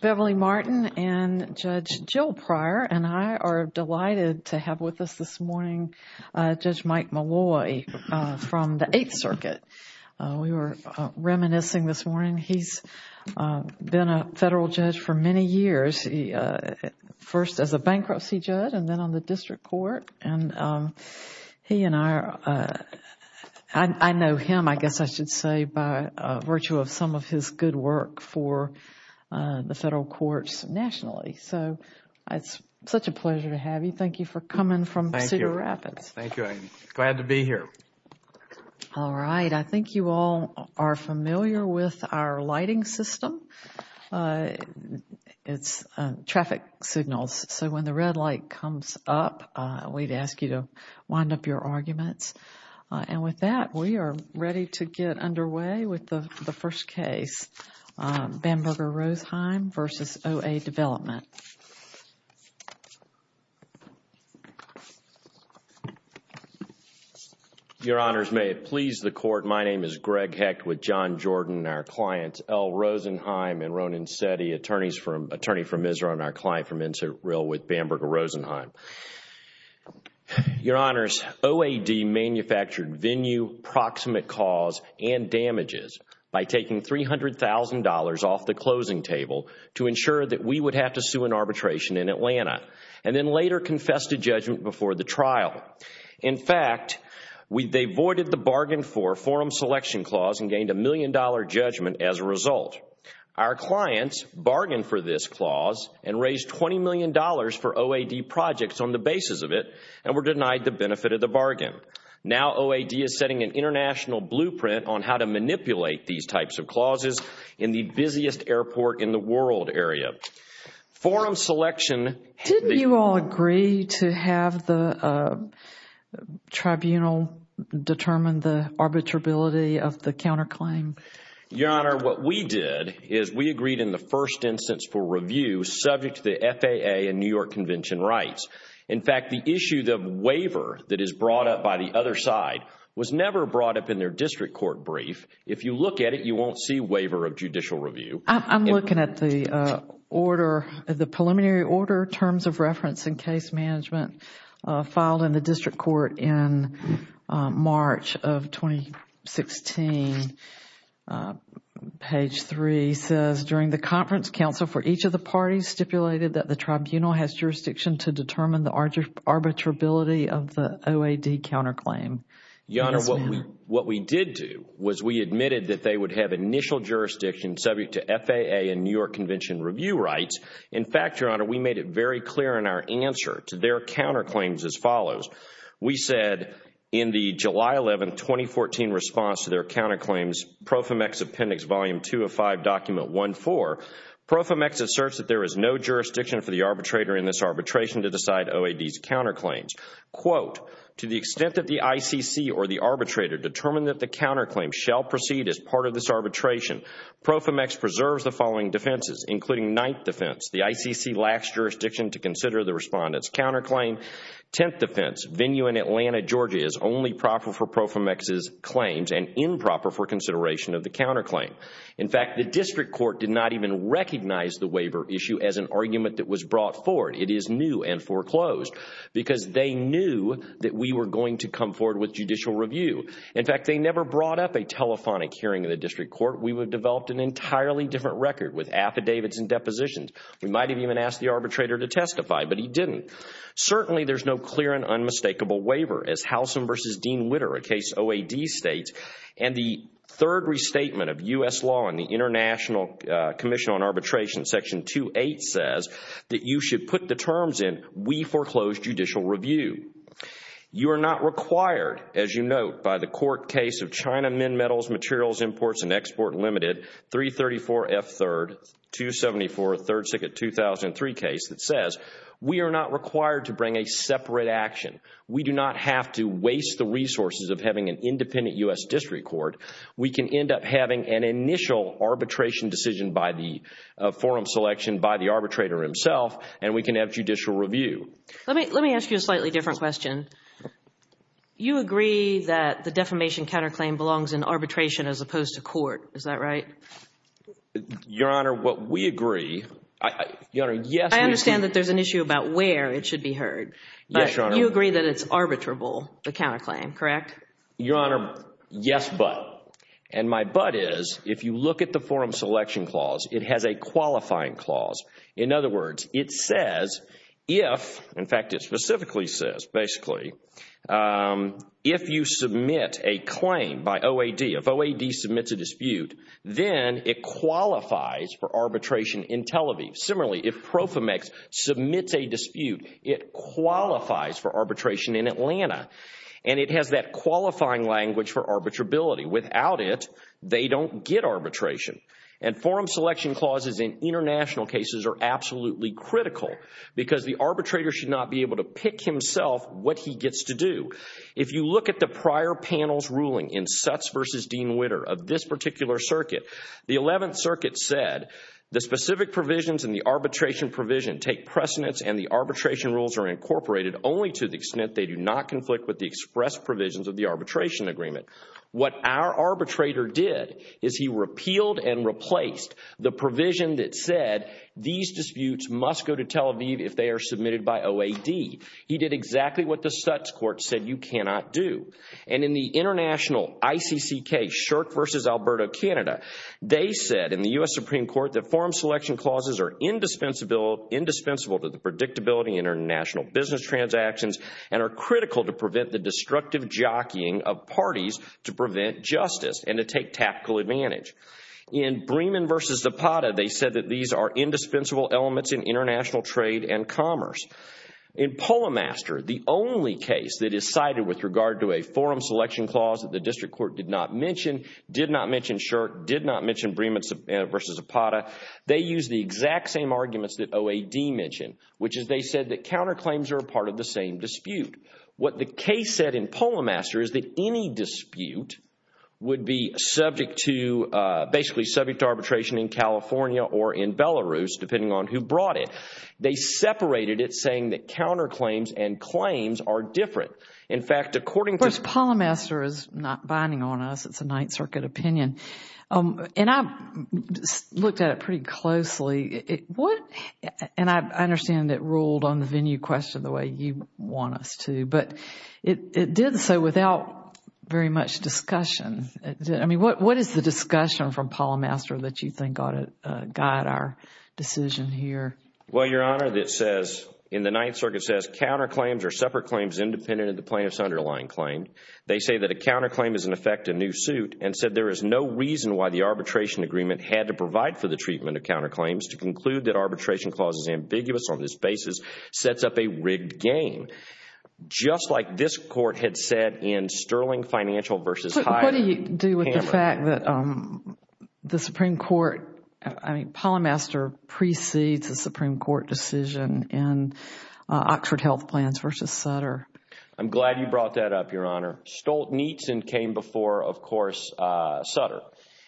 Beverly Martin and Judge Jill Pryor and I are delighted to have with us this morning Judge Mike Malloy from the Eighth Circuit. We were reminiscing this morning, he has been a federal judge for many years, first as a bankruptcy judge and then on the district court and he and I, I know him I guess I should say by virtue of some of his good work for the federal courts nationally. So it is such a pleasure to have you. Thank you for coming from Cedar Rapids. Thank you. I am glad to be here. All right. I think you all are familiar with our lighting system, it is traffic signals. So when the red light comes up, we would ask you to wind up your arguments. With that, we are ready to get underway with the first case, Bamberger Rosenheim v. OA Development. Your Honors, may it please the Court, my name is Greg Hecht with John Jordan and our clients L. Rosenheim and Ronan Setty, attorney from Israel and our client from Israel with Bamberger Rosenheim. Your Honors, OAD manufactured venue, proximate cause and damages by taking $300,000 off the closing table to ensure that we would have to sue an arbitration in Atlanta and then later confessed to judgment before the trial. In fact, they voided the bargain for forum selection clause and gained a million dollar judgment as a result. Our clients bargained for this clause and raised $20 million for OAD projects on the basis of it and were denied the benefit of the bargain. Now OAD is setting an international blueprint on how to manipulate these types of clauses in the busiest airport in the world area. Forum selection... Didn't you all agree to have the tribunal determine the arbitrability of the counter claim? Your Honor, what we did is we agreed in the first instance for review subject to the FAA and New York Convention rights. In fact, the issue, the waiver that is brought up by the other side was never brought up in their district court brief. If you look at it, you won't see waiver of judicial review. I'm looking at the order, the preliminary order, terms of reference and case management filed in the district court in March of 2016. Page 3 says during the conference, counsel for each of the parties stipulated that the tribunal has jurisdiction to determine the arbitrability of the OAD counter claim. Yes, ma'am. Your Honor, what we did do was we admitted that they would have initial jurisdiction subject to FAA and New York Convention review rights. In fact, Your Honor, we made it very clear in our answer to their counter claims as follows. We said in the July 11, 2014 response to their counter claims, PROFIMX Appendix Volume 2 of 5, Document 1-4, PROFIMX asserts that there is no jurisdiction for the arbitrator in this arbitration to decide OAD's counter claims. To the extent that the ICC or the arbitrator determine that the counter claim shall proceed as part of this arbitration, PROFIMX preserves the following defenses including ninth defense, the ICC lacks jurisdiction to consider the respondent's counter claim. Tenth defense, venue in Atlanta, Georgia is only proper for PROFIMX's claims and improper for consideration of the counter claim. In fact, the district court did not even recognize the waiver issue as an argument that was brought forward. It is new and foreclosed because they knew that we were going to come forward with judicial review. In fact, they never brought up a telephonic hearing in the district court. We would have developed an entirely different record with affidavits and depositions. We might have even asked the arbitrator to testify, but he didn't. Certainly there's no clear and unmistakable waiver as Halson versus Dean Witter, a case OAD states and the third restatement of U.S. law in the International Commission on Arbitration Section 2-8 says that you should put the terms in, we foreclose judicial review. You are not required, as you note, by the court case of China Min Metals Materials Imports and Export Limited, 334F 3rd, 274 3rd Circuit 2003 case that says we are not required to bring a separate action. We do not have to waste the resources of having an independent U.S. district court. We can end up having an initial arbitration decision by the forum selection by the arbitrator himself and we can have judicial review. Let me ask you a slightly different question. You agree that the defamation counterclaim belongs in arbitration as opposed to court, is that right? Your Honor, what we agree, Your Honor, yes, we agree. I understand that there's an issue about where it should be heard, but you agree that it's arbitrable, the counterclaim, correct? Your Honor, yes, but, and my but is if you look at the forum selection clause, it has a qualifying clause. In other words, it says if, in fact, it specifically says, basically, if you submit a claim by OAD, if OAD submits a dispute, then it qualifies for arbitration in Tel Aviv. Similarly, if PROFIMEX submits a dispute, it qualifies for arbitration in Atlanta and it has that qualifying language for arbitrability. Without it, they don't get arbitration. And forum selection clauses in international cases are absolutely critical because the arbitrator should not be able to pick himself what he gets to do. If you look at the prior panel's ruling in Sutz v. Dean Witter of this particular circuit, the 11th Circuit said, the specific provisions in the arbitration provision take precedence and the arbitration rules are incorporated only to the extent they do not conflict with the express provisions of the arbitration agreement. What our arbitrator did is he repealed and replaced the provision that said these disputes must go to Tel Aviv if they are submitted by OAD. He did exactly what the Sutz court said you cannot do. And in the international ICC case, Shirk v. Alberta, Canada, they said in the U.S. Supreme Court that forum selection clauses are indispensable to the predictability in our national business transactions and are critical to prevent the destructive jockeying of parties to prevent justice and to take tactical advantage. In Bremen v. Zapata, they said that these are indispensable elements in international trade and commerce. In Polamaster, the only case that is cited with regard to a forum selection clause that the district court did not mention, did not mention Shirk, did not mention Bremen v. Zapata, they use the exact same arguments that OAD mentioned, which is they said that counterclaims are part of the same dispute. What the case said in Polamaster is that any dispute would be subject to, basically subject to arbitration in California or in Belarus, depending on who brought it. They separated it saying that counterclaims and claims are different. In fact, according to… Of course, Polamaster is not binding on us. It's a Ninth Circuit opinion. And I looked at it pretty closely. And I understand it ruled on the venue question the way you want us to. But it did so without very much discussion. What is the discussion from Polamaster that you think ought to guide our decision here? Well, Your Honor, it says, in the Ninth Circuit says counterclaims are separate claims independent of the plaintiff's underlying claim. They say that a counterclaim is in effect a new suit and said there is no reason why the arbitration agreement had to provide for the treatment of counterclaims to conclude that arbitration clause is ambiguous on this basis sets up a rigged game. Just like this court had said in Sterling Financial v. Hyde. So what do you do with the fact that the Supreme Court, I mean, Polamaster precedes the Supreme Court decision in Oxford Health Plans v. Sutter? I'm glad you brought that up, Your Honor.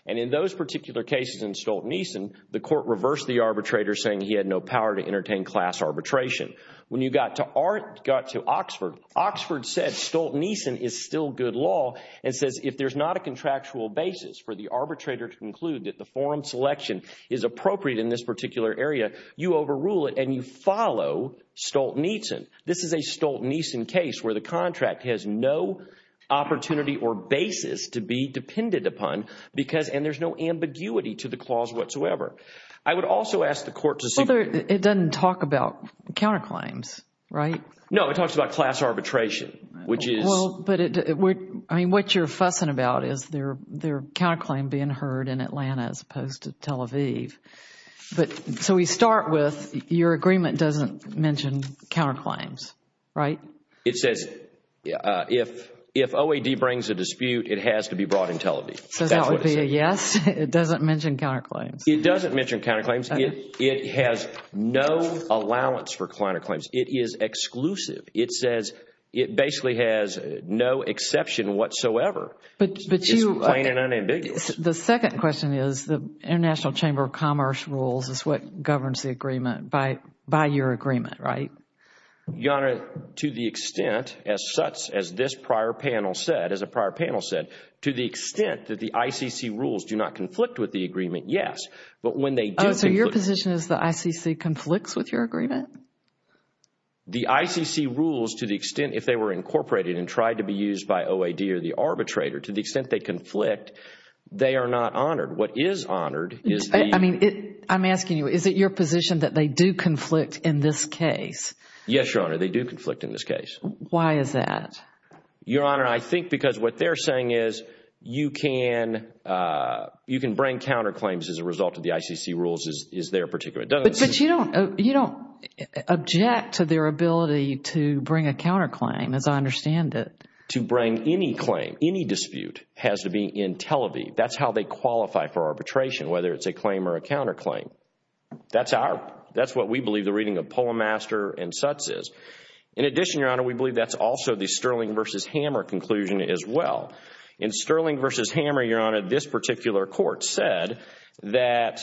And in those particular cases in Stolt-Neeson, the court reversed the arbitrator saying he had no power to entertain class arbitration. When you got to Oxford, Oxford said Stolt-Neeson is still good law and says if there's not a contractual basis for the arbitrator to conclude that the forum selection is appropriate in this particular area, you overrule it and you follow Stolt-Neeson. This is a Stolt-Neeson case where the contract has no opportunity or basis to be depended upon because, and there's no ambiguity to the clause whatsoever. I would also ask the court to see... Well, it doesn't talk about counterclaims, right? No, it talks about class arbitration, which is... Well, but it... I mean, what you're fussing about is there are counterclaims being heard in Atlanta as opposed to Tel Aviv. So we start with your agreement doesn't mention counterclaims, right? It says if OAD brings a dispute, it has to be brought in Tel Aviv. So that would be a yes? It doesn't mention counterclaims? It doesn't mention counterclaims. It has no allowance for counterclaims. It is exclusive. It says it basically has no exception whatsoever. But you... It's plain and unambiguous. The second question is the International Chamber of Commerce rules is what governs the agreement by your agreement, right? Your Honor, to the extent as such, as this prior panel said, as a prior panel said, to the extent that the ICC rules do not conflict with the agreement, yes. But when they do... Oh, so your position is the ICC conflicts with your agreement? The ICC rules to the extent if they were incorporated and tried to be used by OAD or the arbitrator, to the extent they conflict, they are not honored. What is honored is the... I'm asking you, is it your position that they do conflict in this case? Yes, Your Honor, they do conflict in this case. Why is that? Your Honor, I think because what they're saying is you can bring counterclaims as a result of the ICC rules is their particular... But you don't object to their ability to bring a counterclaim as I understand it. To bring any claim, any dispute has to be in Tel Aviv. That's how they qualify for arbitration, whether it's a claim or a counterclaim. That's what we believe the reading of Polemaster and Sutz is. In addition, Your Honor, we believe that's also the Sterling v. Hammer conclusion as well. In Sterling v. Hammer, Your Honor, this particular court said that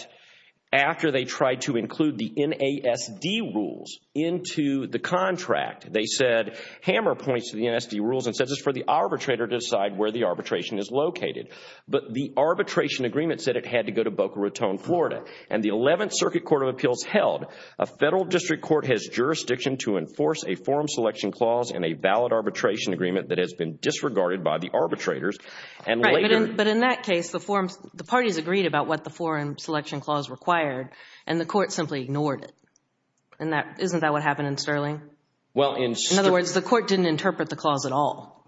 after they tried to include the NASD rules into the contract, they said Hammer points to the NASD rules and says it's for the arbitrator to decide where the arbitration is located. But the arbitration agreement said it had to go to Boca Raton, Florida. And the Eleventh Circuit Court of Appeals held a federal district court has jurisdiction to enforce a forum selection clause in a valid arbitration agreement that has been disregarded by the arbitrators. Right, but in that case, the parties agreed about what the forum selection clause required and the court simply ignored it. Isn't that what happened in Sterling? Well, in... In other words, the court didn't interpret the clause at all.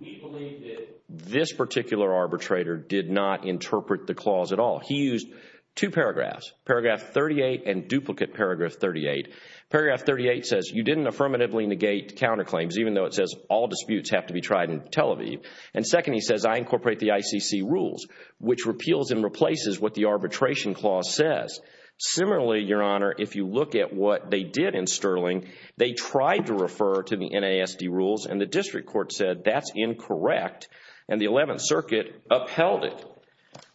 We believe that this particular arbitrator did not interpret the clause at all. He used two paragraphs, paragraph 38 and duplicate paragraph 38. Paragraph 38 says you didn't affirmatively negate counterclaims, even though it says all disputes have to be tried in Tel Aviv. And second, he says I incorporate the ICC rules, which repeals and replaces what the arbitration clause says. Similarly, Your Honor, if you look at what they did in Sterling, they tried to refer to the NASD rules and the district court said that's incorrect and the Eleventh Circuit upheld it.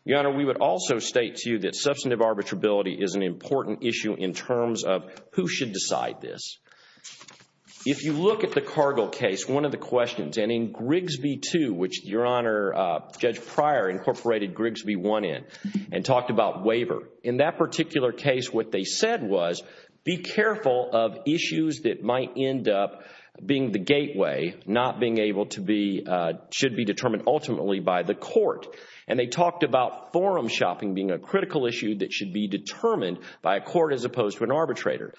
Your Honor, we would also state to you that substantive arbitrability is an important issue in terms of who should decide this. If you look at the Cargill case, one of the questions, and in Grigsby 2, which Your Honor, Judge Pryor incorporated Grigsby 1 in and talked about waiver. In that particular case, what they said was be careful of issues that might end up being the gateway, not being able to be, should be determined ultimately by the court. And they talked about forum shopping being a critical issue that should be determined by a court as opposed to an arbitrator.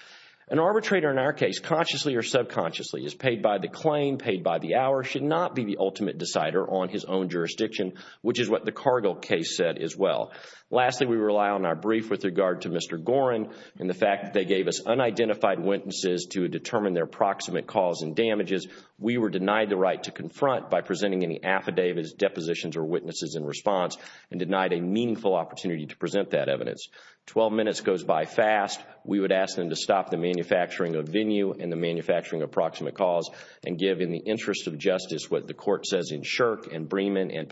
An arbitrator in our case, consciously or subconsciously, is paid by the claim, paid by the hour, should not be the ultimate decider on his own jurisdiction, which is what the Cargill case said as well. Lastly, we rely on our brief with regard to Mr. Gorin and the fact that they gave us unidentified witnesses to determine their proximate cause and damages. We were denied the right to confront by presenting any affidavits, depositions, or witnesses in response and denied a meaningful opportunity to present that evidence. Twelve minutes goes by fast. We would ask them to stop the manufacturing of venue and the manufacturing of proximate cause and give in the interest of justice what the court says in Shirk and Bremen and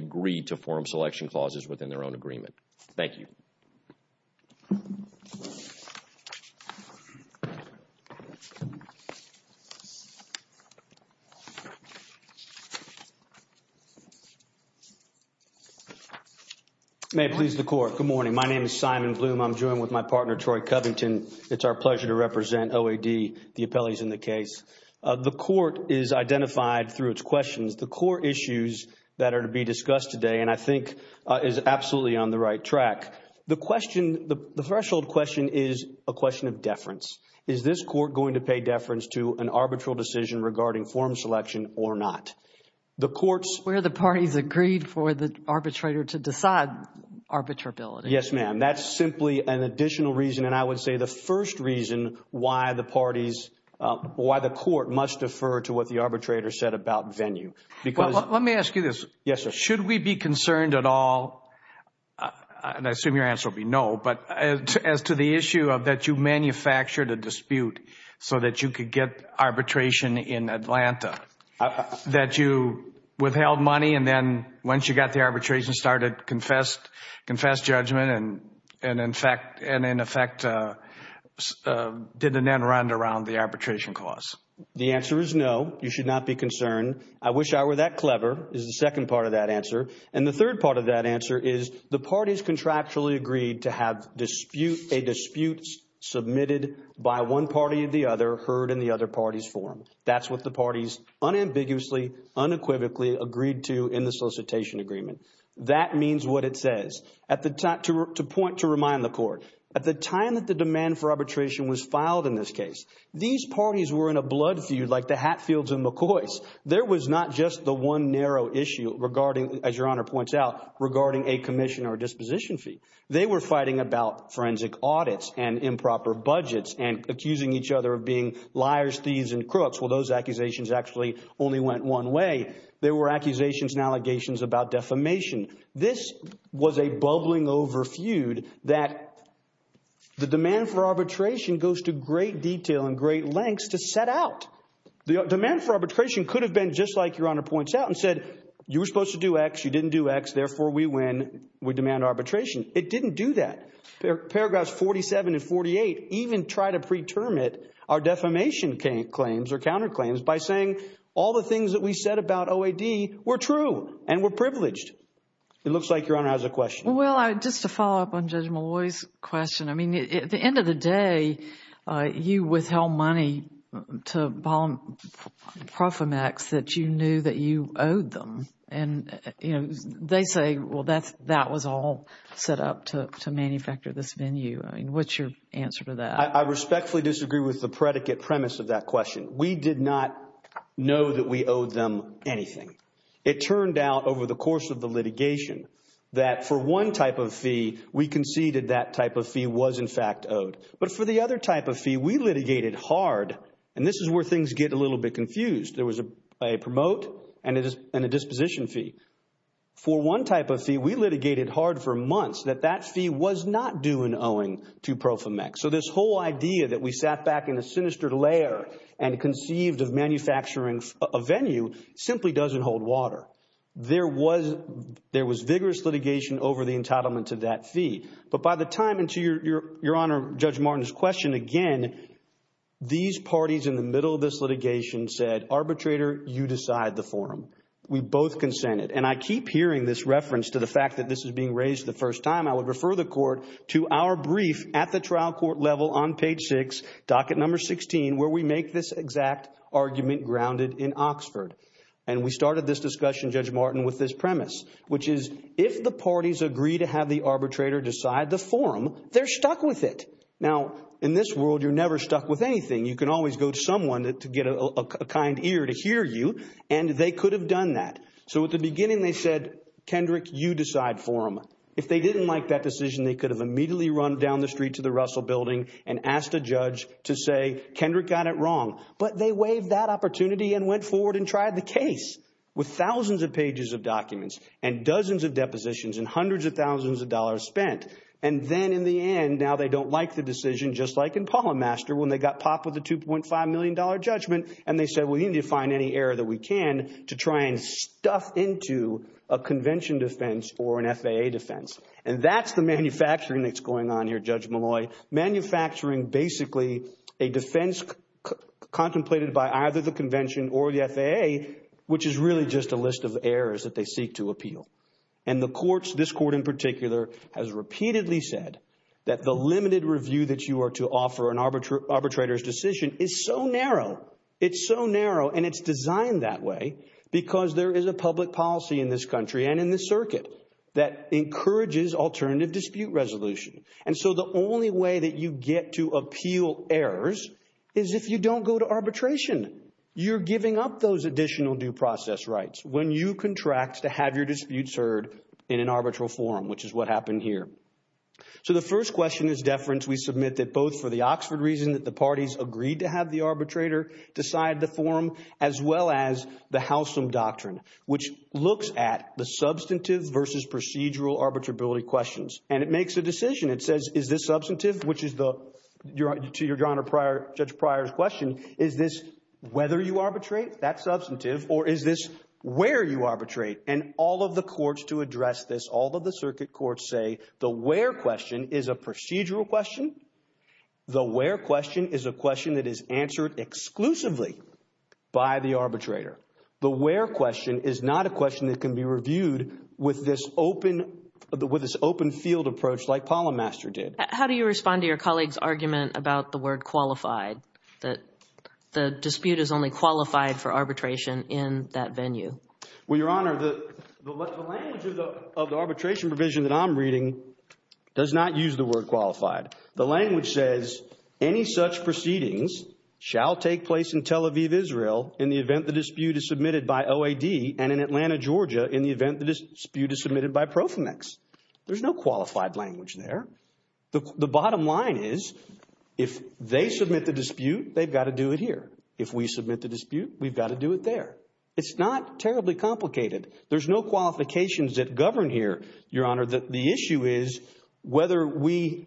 agree to forum selection clauses within their own agreement. Thank you. May it please the court. Good morning. My name is Simon Bloom. I'm joined with my partner, Troy Covington. It's our pleasure to represent OAD, the appellees in the case. The court is identified through its questions. The core issues that are to be discussed today and I think is absolutely on the right track. The question, the threshold question is a question of deference. Is this court going to pay deference to an arbitral decision regarding forum selection or not? The court's Where the parties agreed for the arbitrator to decide arbitrability. Yes, ma'am. That's simply an additional reason and I would say the first reason why the parties, why the court must defer to what the arbitrator said about venue. Let me ask you this. Yes, sir. Should we be concerned at all, and I assume your answer will be no, but as to the issue of that you manufactured a dispute so that you could get arbitration in Atlanta. That you withheld money and then once you got the arbitration started, confessed judgment and in effect, did an end round around the arbitration clause. The answer is no. You should not be concerned. I wish I were that clever is the second part of that answer. And the third part of that answer is the parties contractually agreed to have a dispute submitted by one party or the other heard in the other party's forum. That's what the parties unambiguously, unequivocally agreed to in the solicitation agreement. That means what it says. At the time to point to remind the court at the time that the demand for arbitration was filed in this case, these parties were in a blood feud like the Hatfields and McCoy's. There was not just the one narrow issue regarding, as your honor points out, regarding a commission or disposition fee. They were fighting about forensic audits and improper budgets and accusing each other of being liars, thieves and crooks. Well, those accusations actually only went one way. There were accusations and allegations about defamation. This was a bubbling over feud that the demand for arbitration goes to great detail and great lengths to set out the demand for arbitration could have been just like your honor points out and said you were supposed to do X. You didn't do X. Therefore, we win. We demand arbitration. It didn't do that. Paragraphs 47 and 48 even try to preterm it. Our defamation claims or counterclaims by saying all the things that we said about OAD were true and were privileged. It looks like your honor has a question. Well, just to follow up on Judge Malloy's question, I mean, at the end of the day, you withheld money to Paul Profimax that you knew that you owed them. And, you know, they say, well, that was all set up to manufacture this venue. I mean, what's your answer to that? I respectfully disagree with the predicate premise of that question. We did not know that we owed them anything. It turned out over the course of the litigation that for one type of fee, we conceded that type of fee was, in fact, owed. But for the other type of fee, we litigated hard. And this is where things get a little bit confused. There was a promote and a disposition fee. For one type of fee, we litigated hard for months that that fee was not due in owing to Profimax. So this whole idea that we sat back in a sinister lair and conceived of manufacturing a venue simply doesn't hold water. There was vigorous litigation over the entitlement to that fee. But by the time, and to Your Honor, Judge Martin's question again, these parties in the middle of this litigation said, arbitrator, you decide the forum. We both consented. And I keep hearing this reference to the fact that this is being raised the first time. I would refer the court to our brief at the trial court level on page six, docket number 16, where we make this exact argument grounded in Oxford. And we started this discussion, Judge Martin, with this premise, which is if the parties agree to have the arbitrator decide the forum, they're stuck with it. Now, in this world, you're never stuck with anything. You can always go to someone to get a kind ear to hear you. And they could have done that. So at the beginning, they said, Kendrick, you decide forum. If they didn't like that decision, they could have immediately run down the street to the Russell Building and asked a judge to say, Kendrick got it wrong. But they waived that opportunity and went forward and tried the case with thousands of pages of documents and dozens of depositions and hundreds of thousands of dollars spent. And then in the end, now they don't like the decision, just like in Polymaster, when they got popped with a $2.5 million judgment, and they said, we need to find any error that we can to try and stuff into a convention defense or an FAA defense. And that's the manufacturing that's going on here, Judge Malloy, manufacturing basically a defense contemplated by either the convention or the FAA, which is really just a list of errors that they seek to appeal. And the courts, this court in particular, has repeatedly said that the limited review that you are to offer an arbitrator's decision is so narrow. It's so narrow. And it's designed that way because there is a public policy in this country and in the alternative dispute resolution. And so the only way that you get to appeal errors is if you don't go to arbitration. You're giving up those additional due process rights when you contract to have your disputes heard in an arbitral forum, which is what happened here. So the first question is deference. We submit that both for the Oxford reason that the parties agreed to have the arbitrator decide the forum, as well as the Howsam doctrine, which looks at the substantive versus procedural arbitrability questions. And it makes a decision. It says, is this substantive, which is to your Honor, Judge Pryor's question, is this whether you arbitrate, that's substantive, or is this where you arbitrate? And all of the courts to address this, all of the circuit courts say the where question is a procedural question. The where question is a question that is answered exclusively by the arbitrator. The where question is not a question that can be reviewed with this open field approach like Polymaster did. How do you respond to your colleague's argument about the word qualified, that the dispute is only qualified for arbitration in that venue? Well, Your Honor, the language of the arbitration provision that I'm reading does not use the word qualified. The language says any such proceedings shall take place in Tel Aviv, Israel in the event the dispute is submitted by OAD, and in Atlanta, Georgia in the event the dispute is submitted by PROFIMEX. There's no qualified language there. The bottom line is, if they submit the dispute, they've got to do it here. If we submit the dispute, we've got to do it there. It's not terribly complicated. There's no qualifications that govern here, Your Honor. The issue is whether we,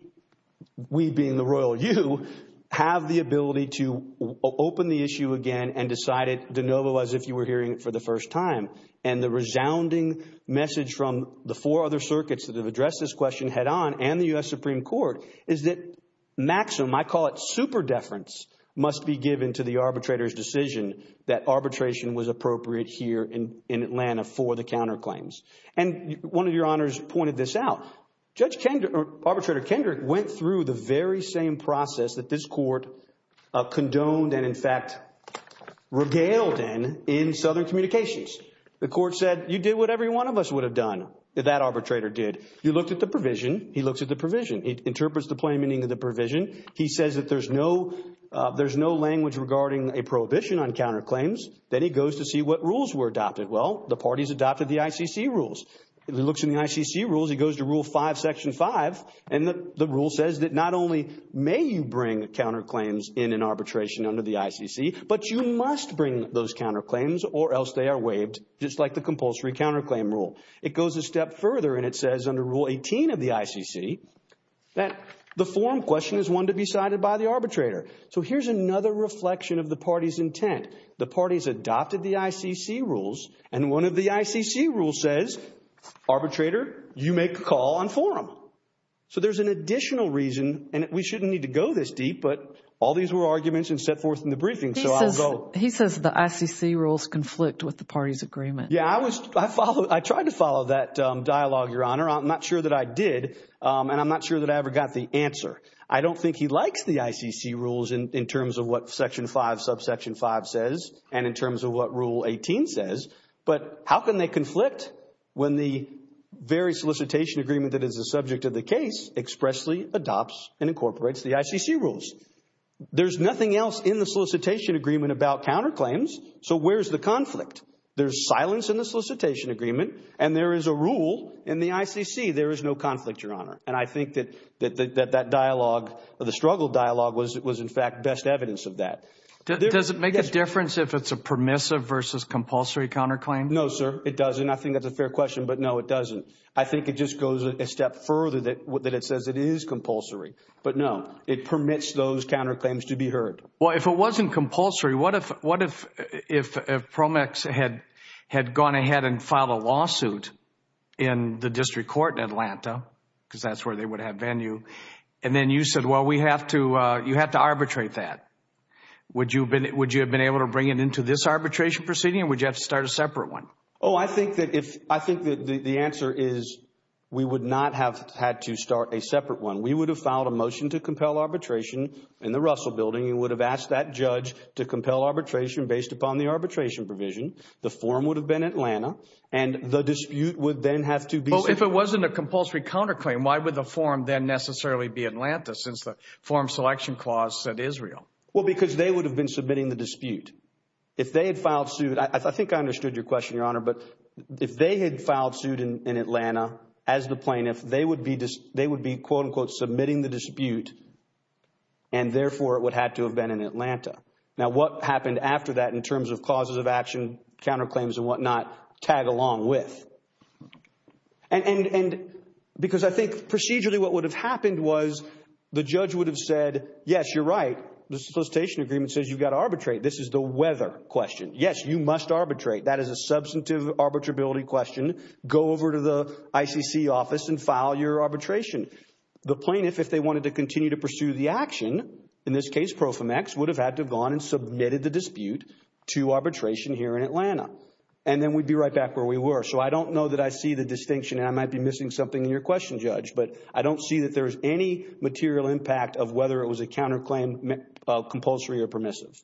we being the royal you, have the ability to open the issue again and decide it de novo as if you were hearing it for the first time. And the resounding message from the four other circuits that have addressed this question head on and the U.S. Supreme Court is that maximum, I call it super deference, must be given to the arbitrator's decision that arbitration was appropriate here in Atlanta for the counterclaims. And one of your honors pointed this out. Arbitrator Kendrick went through the very same process that this court condoned and, in fact, regaled in in Southern Communications. The court said, you did what every one of us would have done, that arbitrator did. You looked at the provision. He looks at the provision. He interprets the plain meaning of the provision. He says that there's no, there's no language regarding a prohibition on counterclaims. Then he goes to see what rules were adopted. Well, the parties adopted the ICC rules. He looks in the ICC rules. He goes to Rule 5, Section 5, and the rule says that not only may you bring counterclaims in an arbitration under the ICC, but you must bring those counterclaims or else they are waived, just like the compulsory counterclaim rule. It goes a step further and it says under Rule 18 of the ICC that the forum question is one to be cited by the arbitrator. So here's another reflection of the party's intent. The parties adopted the ICC rules and one of the ICC rules says, arbitrator, you make a call on forum. So there's an additional reason, and we shouldn't need to go this deep, but all these were arguments and set forth in the briefing, so I'll go. He says the ICC rules conflict with the party's agreement. Yeah, I was, I followed, I tried to follow that dialogue, Your Honor. I'm not sure that I did, and I'm not sure that I ever got the answer. I don't think he likes the ICC rules in terms of what Section 5, Subsection 5 says and in terms of what Rule 18 says, but how can they conflict when the very solicitation agreement that is the subject of the case expressly adopts and incorporates the ICC rules? There's nothing else in the solicitation agreement about counterclaims, so where's the conflict? There's silence in the solicitation agreement and there is a rule in the ICC. There is no conflict, Your Honor, and I think that that dialogue, the struggle dialogue was in fact best evidence of that. Does it make a difference if it's a permissive versus compulsory counterclaim? No, sir, it doesn't. I think that's a fair question, but no, it doesn't. I think it just goes a step further that it says it is compulsory. No, it permits those counterclaims to be heard. Well, if it wasn't compulsory, what if PROMEX had gone ahead and filed a lawsuit in the district court in Atlanta because that's where they would have venue, and then you said, well, you have to arbitrate that. Would you have been able to bring it into this arbitration proceeding or would you have to start a separate one? Oh, I think that the answer is we would not have had to start a separate one. We would have filed a motion to compel arbitration in the Russell Building. You would have asked that judge to compel arbitration based upon the arbitration provision. The form would have been Atlanta and the dispute would then have to be. If it wasn't a compulsory counterclaim, why would the form then necessarily be Atlanta since the form selection clause said Israel? Well, because they would have been submitting the dispute. If they had filed suit, I think I understood your question, Your Honor, but if they had filed suit in Atlanta as the plaintiff, they would be, quote unquote, submitting the dispute and therefore it would have to have been in Atlanta. Now, what happened after that in terms of clauses of action, counterclaims and whatnot tag along with? Because I think procedurally what would have happened was the judge would have said, yes, you're right. The solicitation agreement says you've got to arbitrate. This is the weather question. Yes, you must arbitrate. That is a substantive arbitrability question. Go over to the ICC office and file your arbitration. The plaintiff, if they wanted to continue to pursue the action, in this case, Profimax, would have had to have gone and submitted the dispute to arbitration here in Atlanta. And then we'd be right back where we were. So I don't know that I see the distinction and I might be missing something in your question, Judge, but I don't see that there's any material impact of whether it was a counterclaim, compulsory or permissive.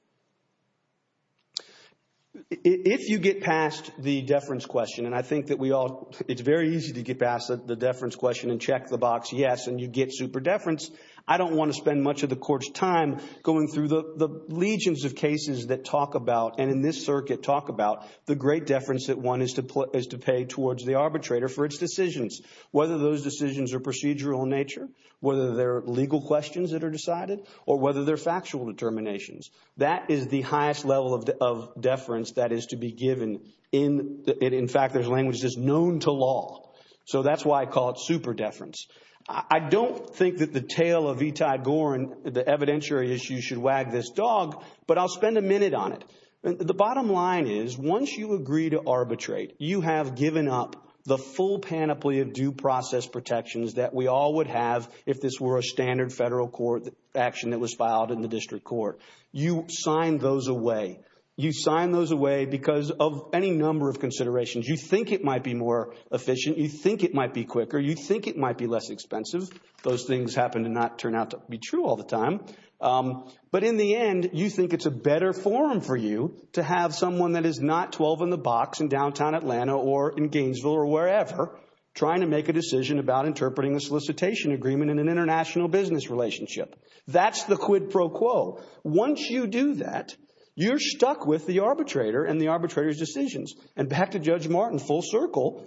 If you get past the deference question, and I think that we all, it's very easy to get past the deference question and check the box, yes, and you get super deference. I don't want to spend much of the court's time going through the legions of cases that talk about, and in this circuit talk about, the great deference that one is to pay towards the arbitrator for its decisions, whether those decisions are procedural in nature, whether they're legal questions that are decided, or whether they're factual determinations. That is the highest level of deference that is to be given. In fact, there's language that's known to law. So that's why I call it super deference. I don't think that the tale of Etai Gorin, the evidentiary issue, should wag this dog, but I'll spend a minute on it. The bottom line is, once you agree to arbitrate, you have given up the full panoply of due process protections that we all would have if this were a standard federal court action that was filed in the district court. You sign those away. You sign those away because of any number of considerations. You think it might be more efficient. You think it might be quicker. You think it might be less expensive. Those things happen to not turn out to be true all the time. But in the end, you think it's a better forum for you to have someone that is not 12 and the box in downtown Atlanta or in Gainesville or wherever trying to make a decision about interpreting a solicitation agreement in an international business relationship. That's the quid pro quo. Once you do that, you're stuck with the arbitrator and the arbitrator's decisions. And back to Judge Martin, full circle,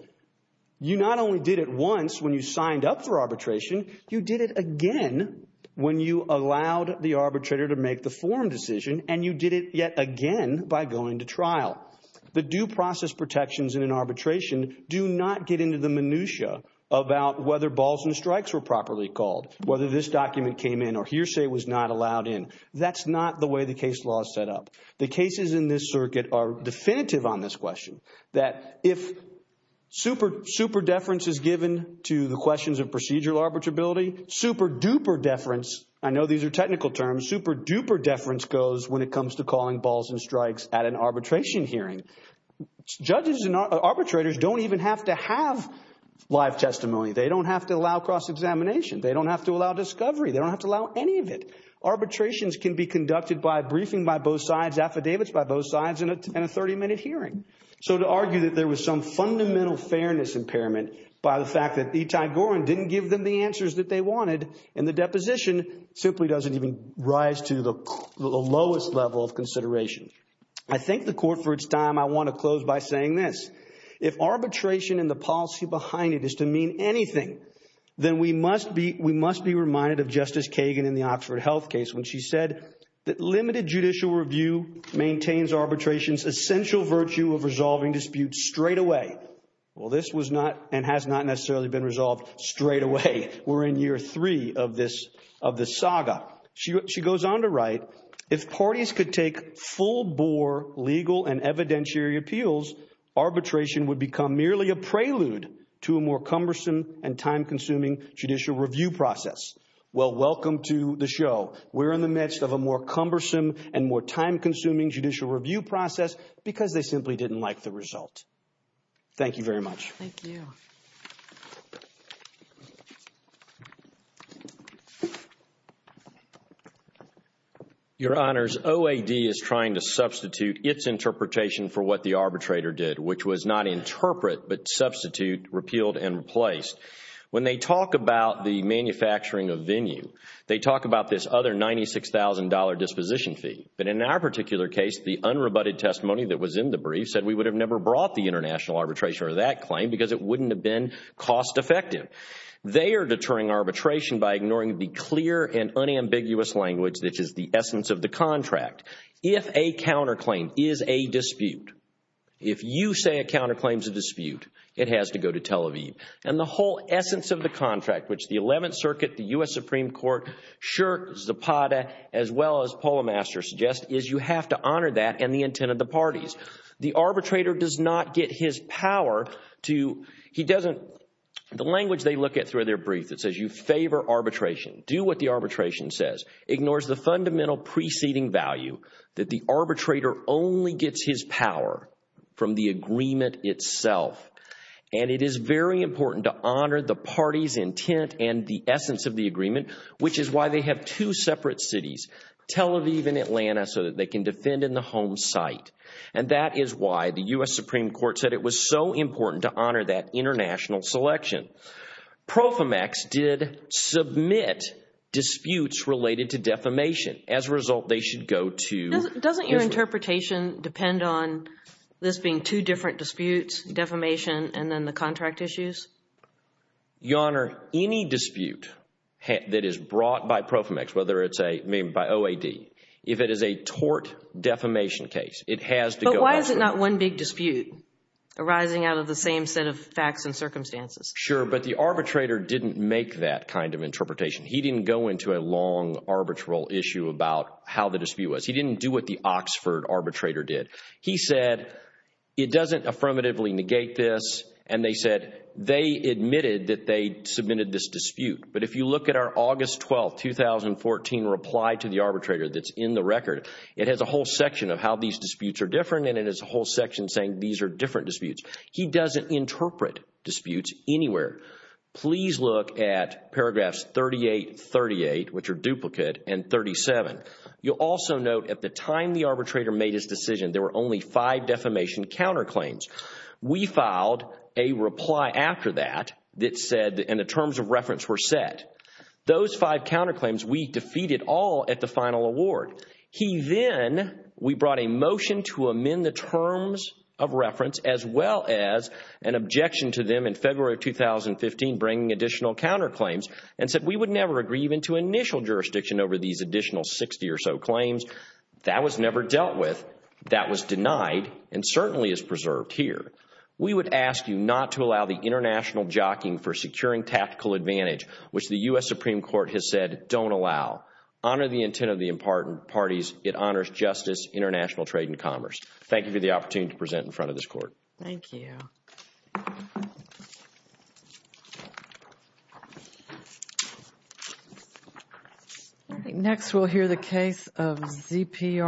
you not only did it once when you signed up for arbitration, you did it again when you allowed the arbitrator to make the forum decision. And you did it yet again by going to trial. The due process protections in an arbitration do not get into the minutiae about whether balls and strikes were properly called, whether this document came in or hearsay was not allowed in. That's not the way the case law is set up. The cases in this circuit are definitive on this question, that if super deference is given to the questions of procedural arbitrability, super duper deference, I know these are technical terms, super duper deference goes when it comes to calling balls and strikes at an arbitration hearing. Judges and arbitrators don't even have to have live testimony. They don't have to allow cross-examination. They don't have to allow discovery. They don't have to allow any of it. Arbitrations can be conducted by briefing by both sides, affidavits by both sides, and a 30-minute hearing. So to argue that there was some fundamental fairness impairment by the fact that Etai Gorin didn't give them the answers that they wanted in the deposition simply doesn't even rise to the lowest level of consideration. I thank the court for its time. I want to close by saying this. If arbitration and the policy behind it is to mean anything, then we must be reminded of Justice Kagan in the Oxford Health case when she said that limited judicial review maintains arbitration's essential virtue of resolving disputes straight away. Well, this was not and has not necessarily been resolved straight away. We're in year three of this saga. She goes on to write, if parties could take full-bore legal and evidentiary appeals, arbitration would become merely a prelude to a more cumbersome and time-consuming judicial review process. Well, welcome to the show. We're in the midst of a more cumbersome and more time-consuming judicial review process because they simply didn't like the result. Thank you very much. Thank you. Your Honors, OAD is trying to substitute its interpretation for what the arbitrator did, which was not interpret, but substitute, repealed, and replaced. When they talk about the manufacturing of venue, they talk about this other $96,000 disposition fee. But in our particular case, the unrebutted testimony that was in the brief said we would have never brought the international arbitration or that claim because it wouldn't have been cost-effective. They are deterring arbitration by ignoring the clear and unambiguous language that is the essence of the contract. If a counterclaim is a dispute, if you say a counterclaim is a dispute, it has to go to Tel Aviv. And the whole essence of the contract, which the 11th Circuit, the U.S. Supreme Court, Schert, Zapata, as well as Polemaster suggest, is you have to honor that and the intent of the parties. The arbitrator does not get his power to, he doesn't, the language they look at through their brief that says you favor arbitration, do what the arbitration says, ignores the fundamental preceding value that the arbitrator only gets his power from the agreement itself. And it is very important to honor the party's intent and the essence of the agreement, which is why they have two separate cities, Tel Aviv and Atlanta, so that they can defend in the home site. And that is why the U.S. Supreme Court said it was so important to honor that international selection. PROFIMAX did submit disputes related to defamation. As a result, they should go to Israel. Doesn't your interpretation depend on this being two different disputes, defamation, and then the contract issues? Your Honor, any dispute that is brought by PROFIMAX, whether it's a, I mean, by OAD, if it is a tort defamation case, it has to go to Oxford. But why is it not one big dispute arising out of the same set of facts and circumstances? Sure, but the arbitrator didn't make that kind of interpretation. He didn't go into a long arbitral issue about how the dispute was. He didn't do what the Oxford arbitrator did. He said, it doesn't affirmatively negate this. And they said, they admitted that they submitted this dispute. But if you look at our August 12, 2014 reply to the arbitrator that's in the record, it has a whole section of how these disputes are different. And it has a whole section saying these are different disputes. He doesn't interpret disputes anywhere. Please look at paragraphs 38, 38, which are duplicate, and 37. You'll also note at the time the arbitrator made his decision, there were only five defamation counterclaims. We filed a reply after that that said, and the terms of reference were set. Those five counterclaims, we defeated all at the final award. He then, we brought a motion to amend the terms of reference as well as an objection to them in February of 2015, bringing additional counterclaims, and said we would never agree even to initial jurisdiction over these additional 60 or so claims. That was never dealt with. That was denied and certainly is preserved here. We would ask you not to allow the international jockeying for securing tactical advantage, which the U.S. Supreme Court has said don't allow. Honor the intent of the parties. It honors justice, international trade, and commerce. Thank you for the opportunity to present in front of this court. Thank you. Next, we'll hear the case of ZPR.